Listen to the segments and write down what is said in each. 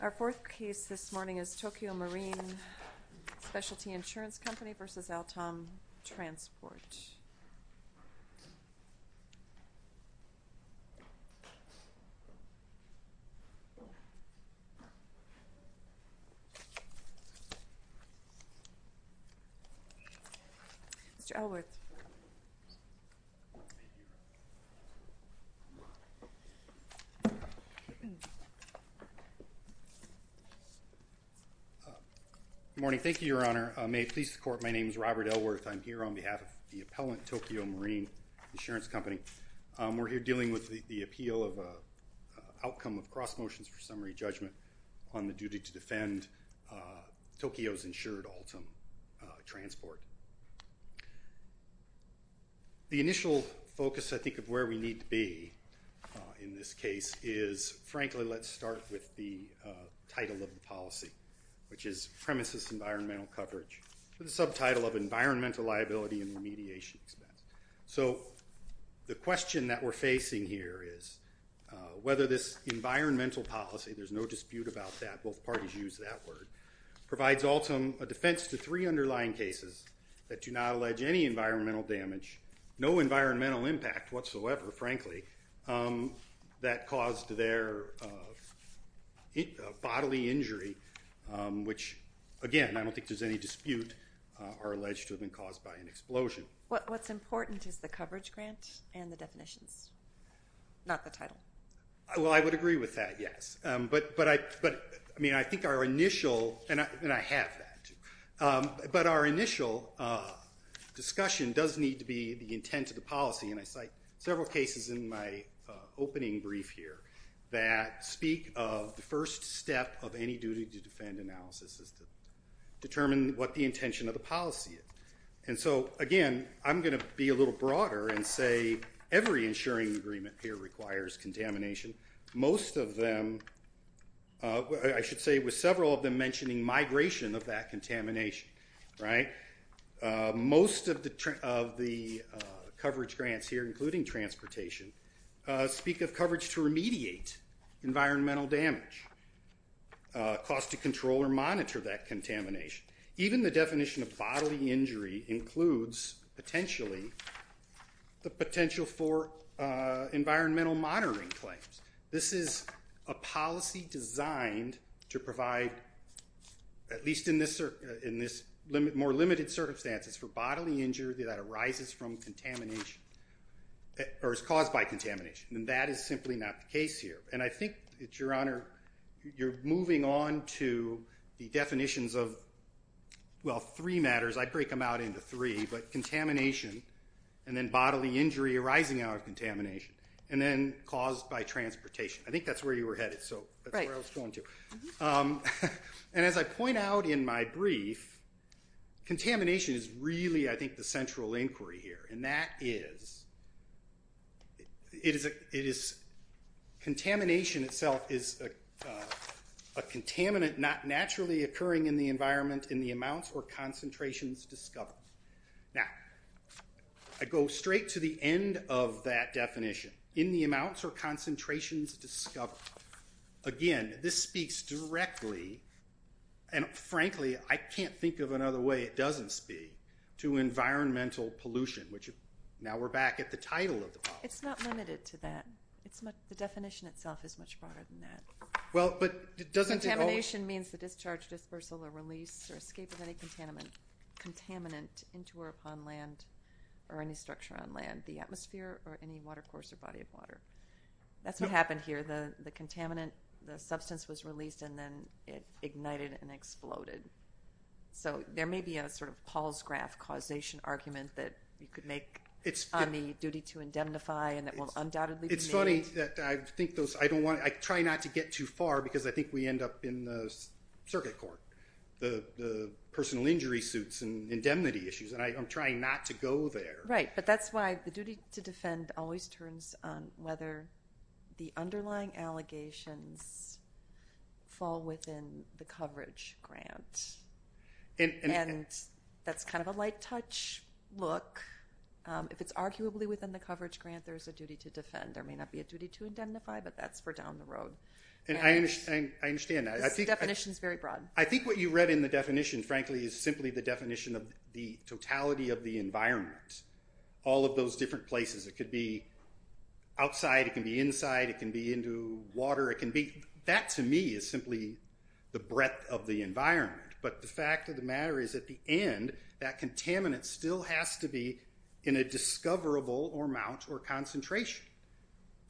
Our fourth case this morning is Tokyo Marine Specialty Insurance Company v. Altom Transport. Good morning. Thank you, Your Honor. May it please the Court, my name is Robert Ellworth. I'm here on behalf of the appellant Tokyo Marine Insurance Company. We're here dealing with the appeal of an outcome of cross motions for summary judgment on the duty to defend Tokyo's insured Altom Transport. The initial focus, I think, of where we need to be in this case is, frankly, let's start with the title of the policy, which is Premises Environmental Coverage with a subtitle of Environmental Liability and Remediation Expense. So the question that we're facing here is whether this environmental policy, there's no dispute about that, both parties use that word, provides Altom a defense to three underlying cases that do not allege any environmental damage, no environmental impact whatsoever, frankly, that caused their bodily injury, which, again, I don't think there's any dispute or allege to have been caused by an explosion. What's important is the coverage grant and the definitions, not the title. Well, I would agree with that, yes. But, I mean, I think our initial, and I have that, but our initial discussion does need to be the intent of the policy, and I cite several cases in my opening brief here that speak of the first step of any duty to defend analysis is to determine what the intention of the policy is. And so, again, I'm going to be a little broader and say every insuring agreement here requires contamination. Most of them, I should say with several of them mentioning migration of that contamination, right? Most of the coverage grants here, including transportation, speak of coverage to remediate environmental damage, cost to control or monitor that contamination. Even the definition of bodily injury includes, potentially, the potential for environmental monitoring claims. This is a policy designed to provide, at least in this more limited circumstances, for bodily injury that arises from contamination or is caused by contamination, and that is simply not the case here. And I think, Your Honor, you're moving on to the definitions of, well, three matters. I'd break them out into three, but contamination and then bodily injury arising out of contamination and then caused by transportation. I think that's where you were headed, so that's where I was going to. And as I point out in my brief, contamination is really, I think, the central inquiry here, and that is contamination itself is a contaminant not naturally occurring in the environment in the amounts or concentrations discovered. Now, I go straight to the end of that definition. In the amounts or concentrations discovered. Again, this speaks directly, and frankly, I can't think of another way it doesn't speak, to environmental pollution, which now we're back at the title of the policy. It's not limited to that. The definition itself is much broader than that. Well, but doesn't it always? Contamination means the discharge, dispersal, or release or escape of any contaminant into or upon land or any structure on land, the atmosphere or any water course or body of water. That's what happened here. The contaminant, the substance was released, and then it ignited and exploded. So there may be a sort of Paul's graph causation argument that you could make on the duty to indemnify and that will undoubtedly be made. It's funny that I try not to get too far because I think we end up in the circuit court, the personal injury suits and indemnity issues, and I'm trying not to go there. Right, but that's why the duty to defend always turns on whether the underlying allegations fall within the coverage grant, and that's kind of a light touch look. If it's arguably within the coverage grant, there's a duty to defend. There may not be a duty to indemnify, but that's for down the road. I understand that. The definition is very broad. I think what you read in the definition, frankly, is simply the definition of the totality of the environment, all of those different places. It could be outside. It can be inside. It can be into water. That, to me, is simply the breadth of the environment. But the fact of the matter is at the end, that contaminant still has to be in a discoverable amount or concentration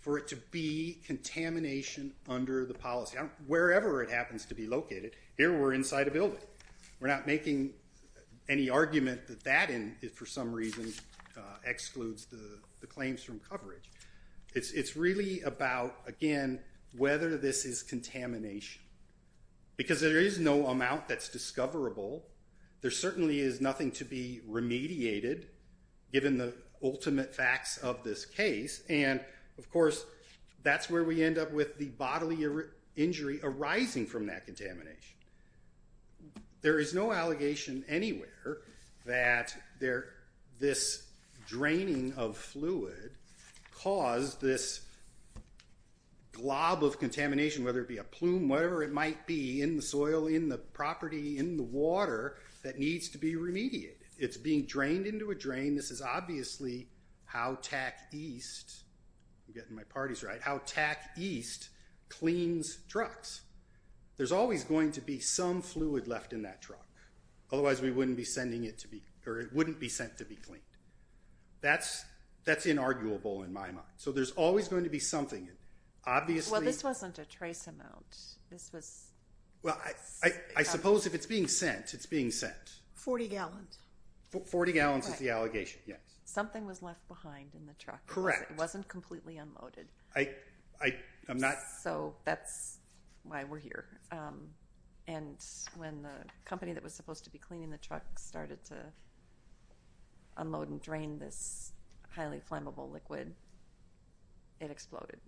for it to be contamination under the policy. Wherever it happens to be located, here we're inside a building. We're not making any argument that that, for some reason, excludes the claims from coverage. It's really about, again, whether this is contamination. Because there is no amount that's discoverable, there certainly is nothing to be remediated, given the ultimate facts of this case. And, of course, that's where we end up with the bodily injury arising from that contamination. There is no allegation anywhere that this draining of fluid caused this glob of contamination, whether it be a plume, whatever it might be, in the soil, in the property, in the water, that needs to be remediated. It's being drained into a drain. This is obviously how TAC East, I'm getting my parties right, how TAC East cleans trucks. There's always going to be some fluid left in that truck. Otherwise, we wouldn't be sending it to be, or it wouldn't be sent to be cleaned. That's inarguable, in my mind. So there's always going to be something. Obviously... Well, this wasn't a trace amount. This was... Well, I suppose if it's being sent, it's being sent. Forty gallons. Forty gallons is the allegation, yes. Something was left behind in the truck. Correct. It wasn't completely unloaded. I'm not... So that's why we're here. And when the company that was supposed to be cleaning the truck started to unload and drain this highly flammable liquid, it exploded.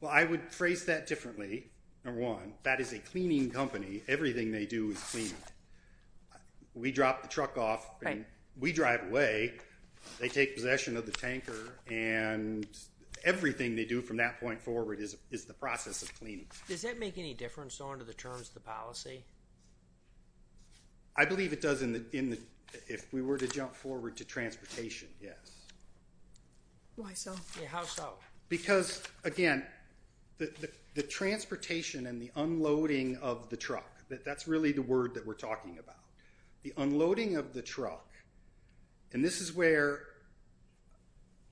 Well, I would phrase that differently, number one. That is a cleaning company. Everything they do is cleaning. We drop the truck off. Right. We drive away. They take possession of the tanker. Everything they do from that point forward is the process of cleaning. Does that make any difference under the terms of the policy? I believe it does if we were to jump forward to transportation, yes. Why so? How so? Because, again, the transportation and the unloading of the truck, that's really the word that we're talking about. The unloading of the truck, and this is where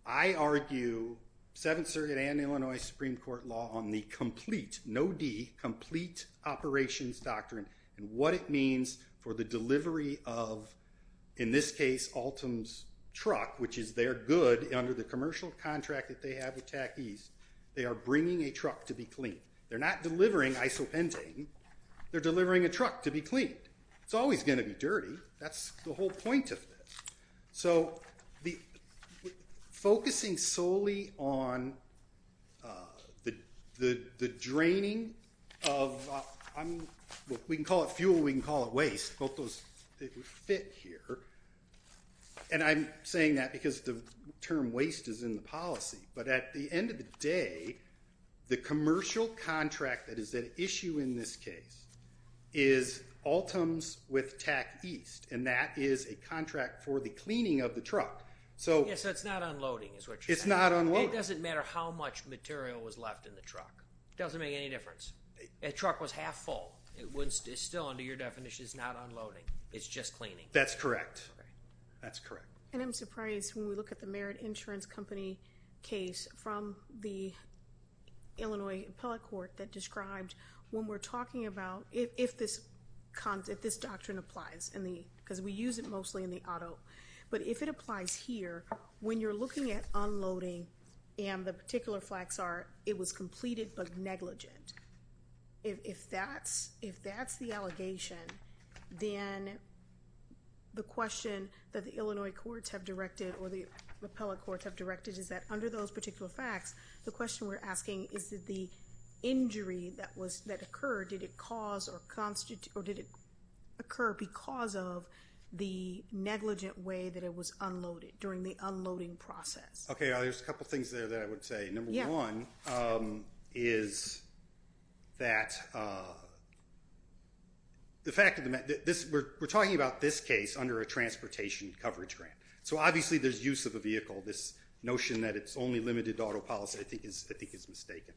I argue 7th Circuit and Illinois Supreme Court law on the complete, no D, complete operations doctrine and what it means for the delivery of, in this case, Altom's truck, which is their good under the commercial contract that they have with Tac East. They are bringing a truck to be cleaned. They're not delivering isopentane. They're delivering a truck to be cleaned. It's always going to be dirty. That's the whole point of this. So focusing solely on the draining of, we can call it fuel, we can call it waste, both those fit here. And I'm saying that because the term waste is in the policy. But at the end of the day, the commercial contract that is at issue in this case is Altom's with Tac East, and that is a contract for the cleaning of the truck. Yes, so it's not unloading is what you're saying. It's not unloading. It doesn't matter how much material was left in the truck. It doesn't make any difference. That truck was half full. It still, under your definition, is not unloading. It's just cleaning. That's correct. That's correct. And I'm surprised when we look at the Merit Insurance Company case from the Illinois appellate court that described when we're talking about, if this doctrine applies, because we use it mostly in the auto, but if it applies here, when you're looking at unloading and the particular facts are it was completed but negligent, if that's the allegation, then the question that the Illinois courts have directed or the appellate courts have directed is that under those particular facts, the question we're asking is that the injury that occurred, did it occur because of the negligent way that it was unloaded, during the unloading process? Okay, there's a couple things there that I would say. Number one is that the fact of the matter, we're talking about this case under a transportation coverage grant. So obviously there's use of a vehicle. This notion that it's only limited to auto policy I think is mistaken.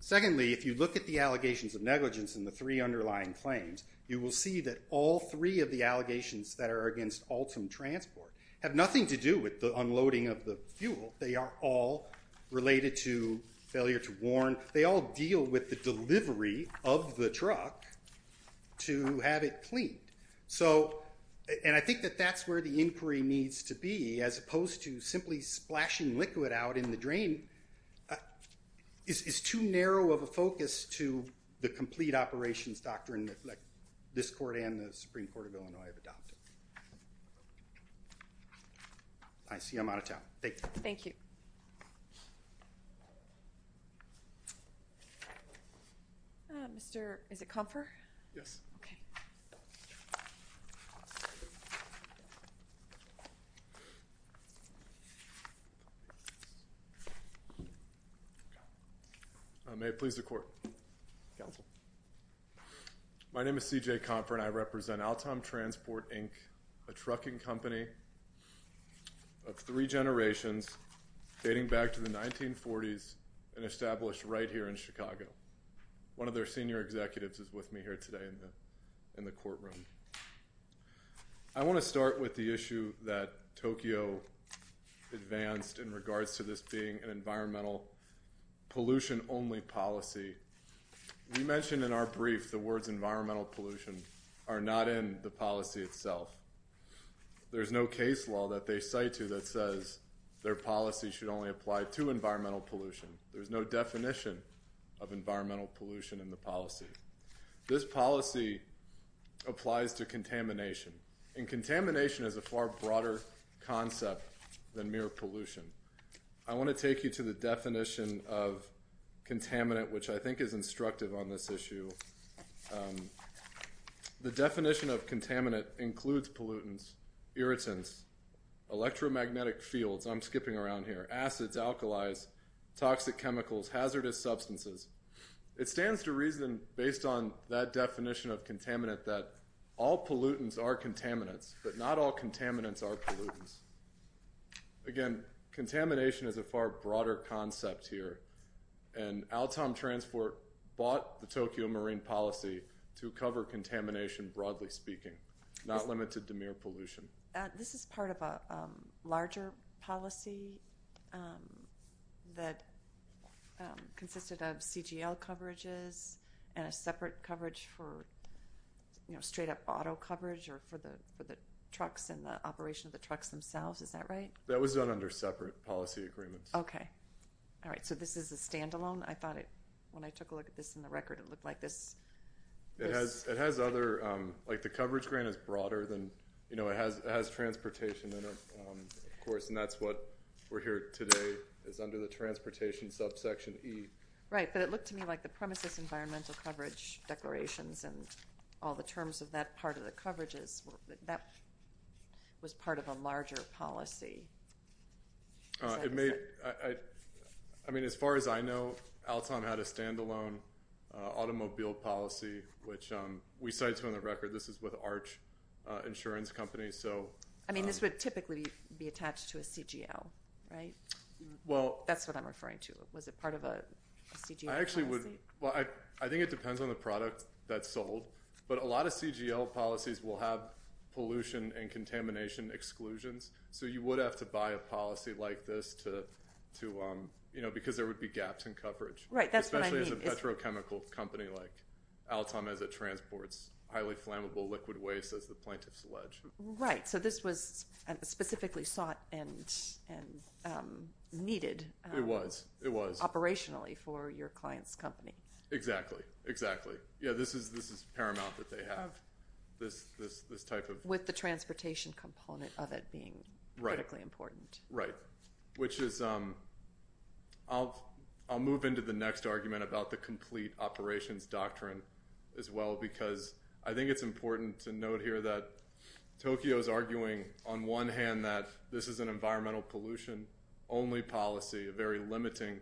Secondly, if you look at the allegations of negligence in the three underlying claims, you will see that all three of the allegations that are against Altam Transport have nothing to do with the unloading of the fuel. They are all related to failure to warn. They all deal with the delivery of the truck to have it cleaned. And I think that that's where the inquiry needs to be as opposed to simply splashing liquid out in the drain is too narrow of a focus to the complete operations doctrine that this court and the Supreme Court of Illinois have adopted. I see I'm out of town. Thank you. Thank you. Mr. Is it Comfer? Yes. Okay. May it please the court. Council. My name is CJ Comfort. I represent Altam Transport Inc, a trucking company of three generations dating back to the 1940s and established right here in Chicago. One of their senior executives is with me here today in the, in the courtroom. I want to start with the issue that Tokyo advanced in regards to this being an environmental pollution only policy. You mentioned in our brief, the words environmental pollution are not in the policy itself. There's no case law that they say to that says their policy should only apply to environmental pollution. There's no definition of environmental pollution in the policy. This policy applies to contamination and contamination is a far broader concept than mere pollution. I want to take you to the definition of contaminant, which I think is instructive on this issue. The definition of contaminant includes pollutants, irritants, electromagnetic fields. I'm skipping around here. Acids, alkalis, toxic chemicals, hazardous substances. It stands to reason based on that definition of contaminant that all pollutants are contaminants, but not all contaminants are pollutants. Again, contamination is a far broader concept here. And Altam Transport bought the Tokyo Marine policy to cover contamination, broadly speaking, not limited to mere pollution. This is part of a larger policy that consisted of CGL coverages and a separate coverage for, you know, straight up auto coverage or for the trucks and the operation of the trucks themselves. Is that right? That was done under separate policy agreements. Okay. All right. So this is a standalone. I thought it, when I took a look at this in the record, it looked like this. It has other, like the coverage grant is broader than, you know, it has transportation in it, of course, and that's what we're here today is under the transportation subsection E. Right. But it looked to me like the premises environmental coverage declarations and all the terms of that part of the coverages, that was part of a larger policy. It may, I mean, as far as I know Altam had a standalone automobile policy, which we cited on the record. This is with Arch Insurance Company. So. I mean, this would typically be attached to a CGL, right? Well, that's what I'm referring to. Was it part of a CGL policy? I actually would. Well, I think it depends on the product that's sold, but a lot of CGL policies will have pollution and contamination exclusions. So you would have to buy a policy like this to, you know, because there would be gaps in coverage. Right. That's what I mean. It's a petrochemical company like Altam as it transports highly flammable liquid waste as the plaintiffs allege. Right. So this was specifically sought and needed. It was. It was. Operationally for your client's company. Exactly. Exactly. Yeah. This is paramount that they have this type of. With the transportation component of it being critically important. Right. Which is I'll move into the next argument about the complete operations doctrine as well, because I think it's important to note here that Tokyo is arguing on one hand that this is an environmental pollution only policy, a very limiting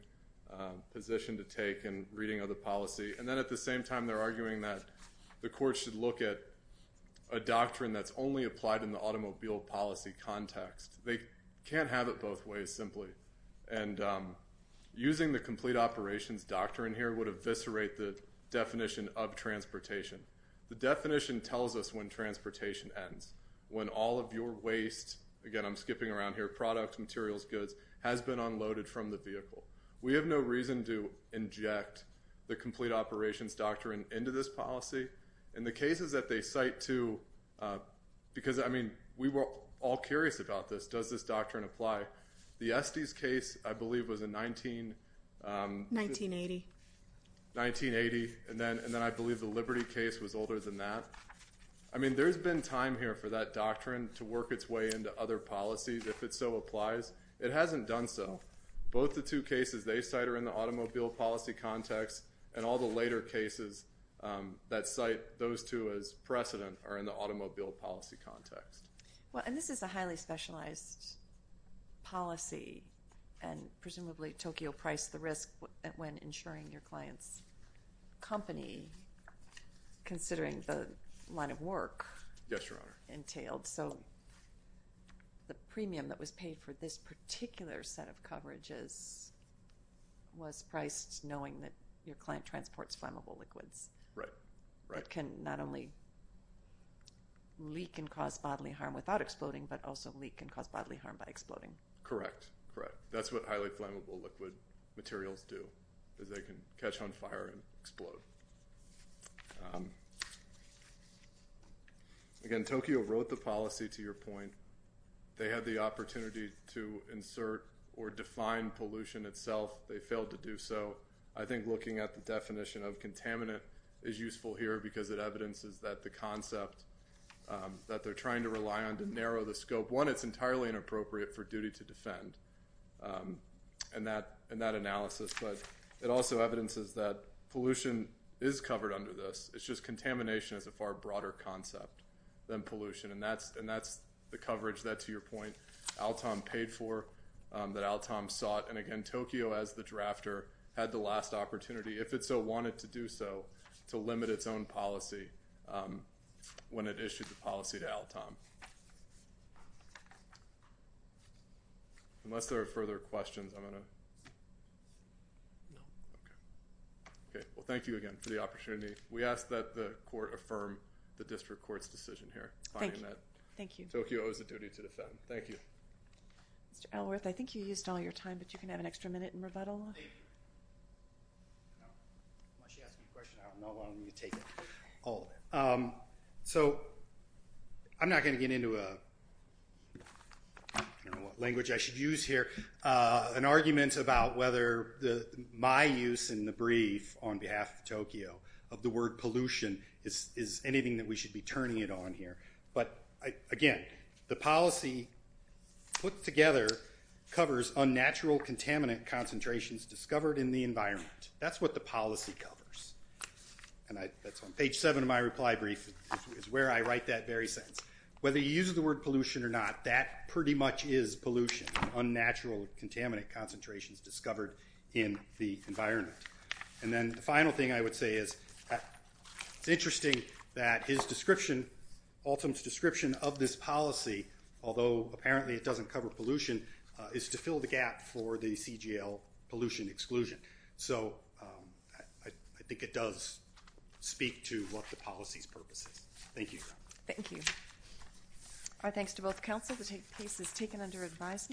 position to take and reading of the policy. And then at the same time, they're arguing that the court should look at a doctrine that's only applied in the automobile policy context. They can't have it both ways simply. And using the complete operations doctrine here would eviscerate the definition of transportation. The definition tells us when transportation ends, when all of your waste, again, I'm skipping around here. Products, materials, goods has been unloaded from the vehicle. We have no reason to inject the complete operations doctrine into this policy. And the cases that they cite to because, I mean, we were all curious about this. Does this doctrine apply? The Estes case, I believe was a 19, um, 1980, 1980. And then, and then I believe the Liberty case was older than that. I mean, there's been time here for that doctrine to work its way into other policies. If it's so applies, it hasn't done. So both the two cases they cite are in the automobile policy context and all the later cases, um, that site, those two as precedent are in the automobile policy context. Well, and this is a highly specialized policy and presumably Tokyo price, the risk when ensuring your client's company, considering the line of work entailed. So the premium that was paid for this particular set of coverages was priced knowing that your client transports flammable liquids. Right. Right. Can not only leak and cause bodily harm without exploding, but also leak and cause bodily harm by exploding. Correct. Correct. That's what highly flammable liquid materials do is they can catch on fire and explode. Um, again, Tokyo wrote the policy to your point. They had the opportunity to insert or define pollution itself. They failed to do so. I think looking at the definition of contaminant is useful here because it evidences that the concept, um, that they're trying to rely on to narrow the scope one, it's entirely inappropriate for duty to defend. Um, and that, and that analysis, but it also evidences that pollution is covered under this. It's just contamination as a far broader concept than pollution. And that's, and that's the coverage that to your point, Alton paid for that Alton sought. And again, Tokyo as the drafter had the last opportunity if it's so wanted to do so to limit its own policy. Um, when it issued the policy to Alton, unless there are further questions, I'm going to, no. Okay. Okay. Well, thank you again for the opportunity. We ask that the court affirm the district court's decision here. Thank you. Thank you. Tokyo is a duty to defend. Thank you. Mr. Elworth. I think you used all your time, but you can have an extra minute and rebuttal. So I'm not going to get into a, I don't know what language I should use here. Uh, an argument about whether the, my use in the brief on behalf of Tokyo of the word pollution is, is anything that we should be turning it on here. But again, the policy put together covers unnatural contaminant concentrations discovered in the environment. That's what the policy covers. And I that's on page seven of my reply brief is where I write that very sentence. Whether you use the word pollution or not, that pretty much is pollution unnatural contaminant concentrations discovered in the environment. And then the final thing I would say is it's interesting that his description, Alton's description of this policy, although apparently it doesn't cover pollution, is to fill the gap for the CGL pollution exclusion. So I think it does speak to what the policy's purposes. Thank you. Thank you. All right. Thanks to both. Counsel to take places taken under advisement.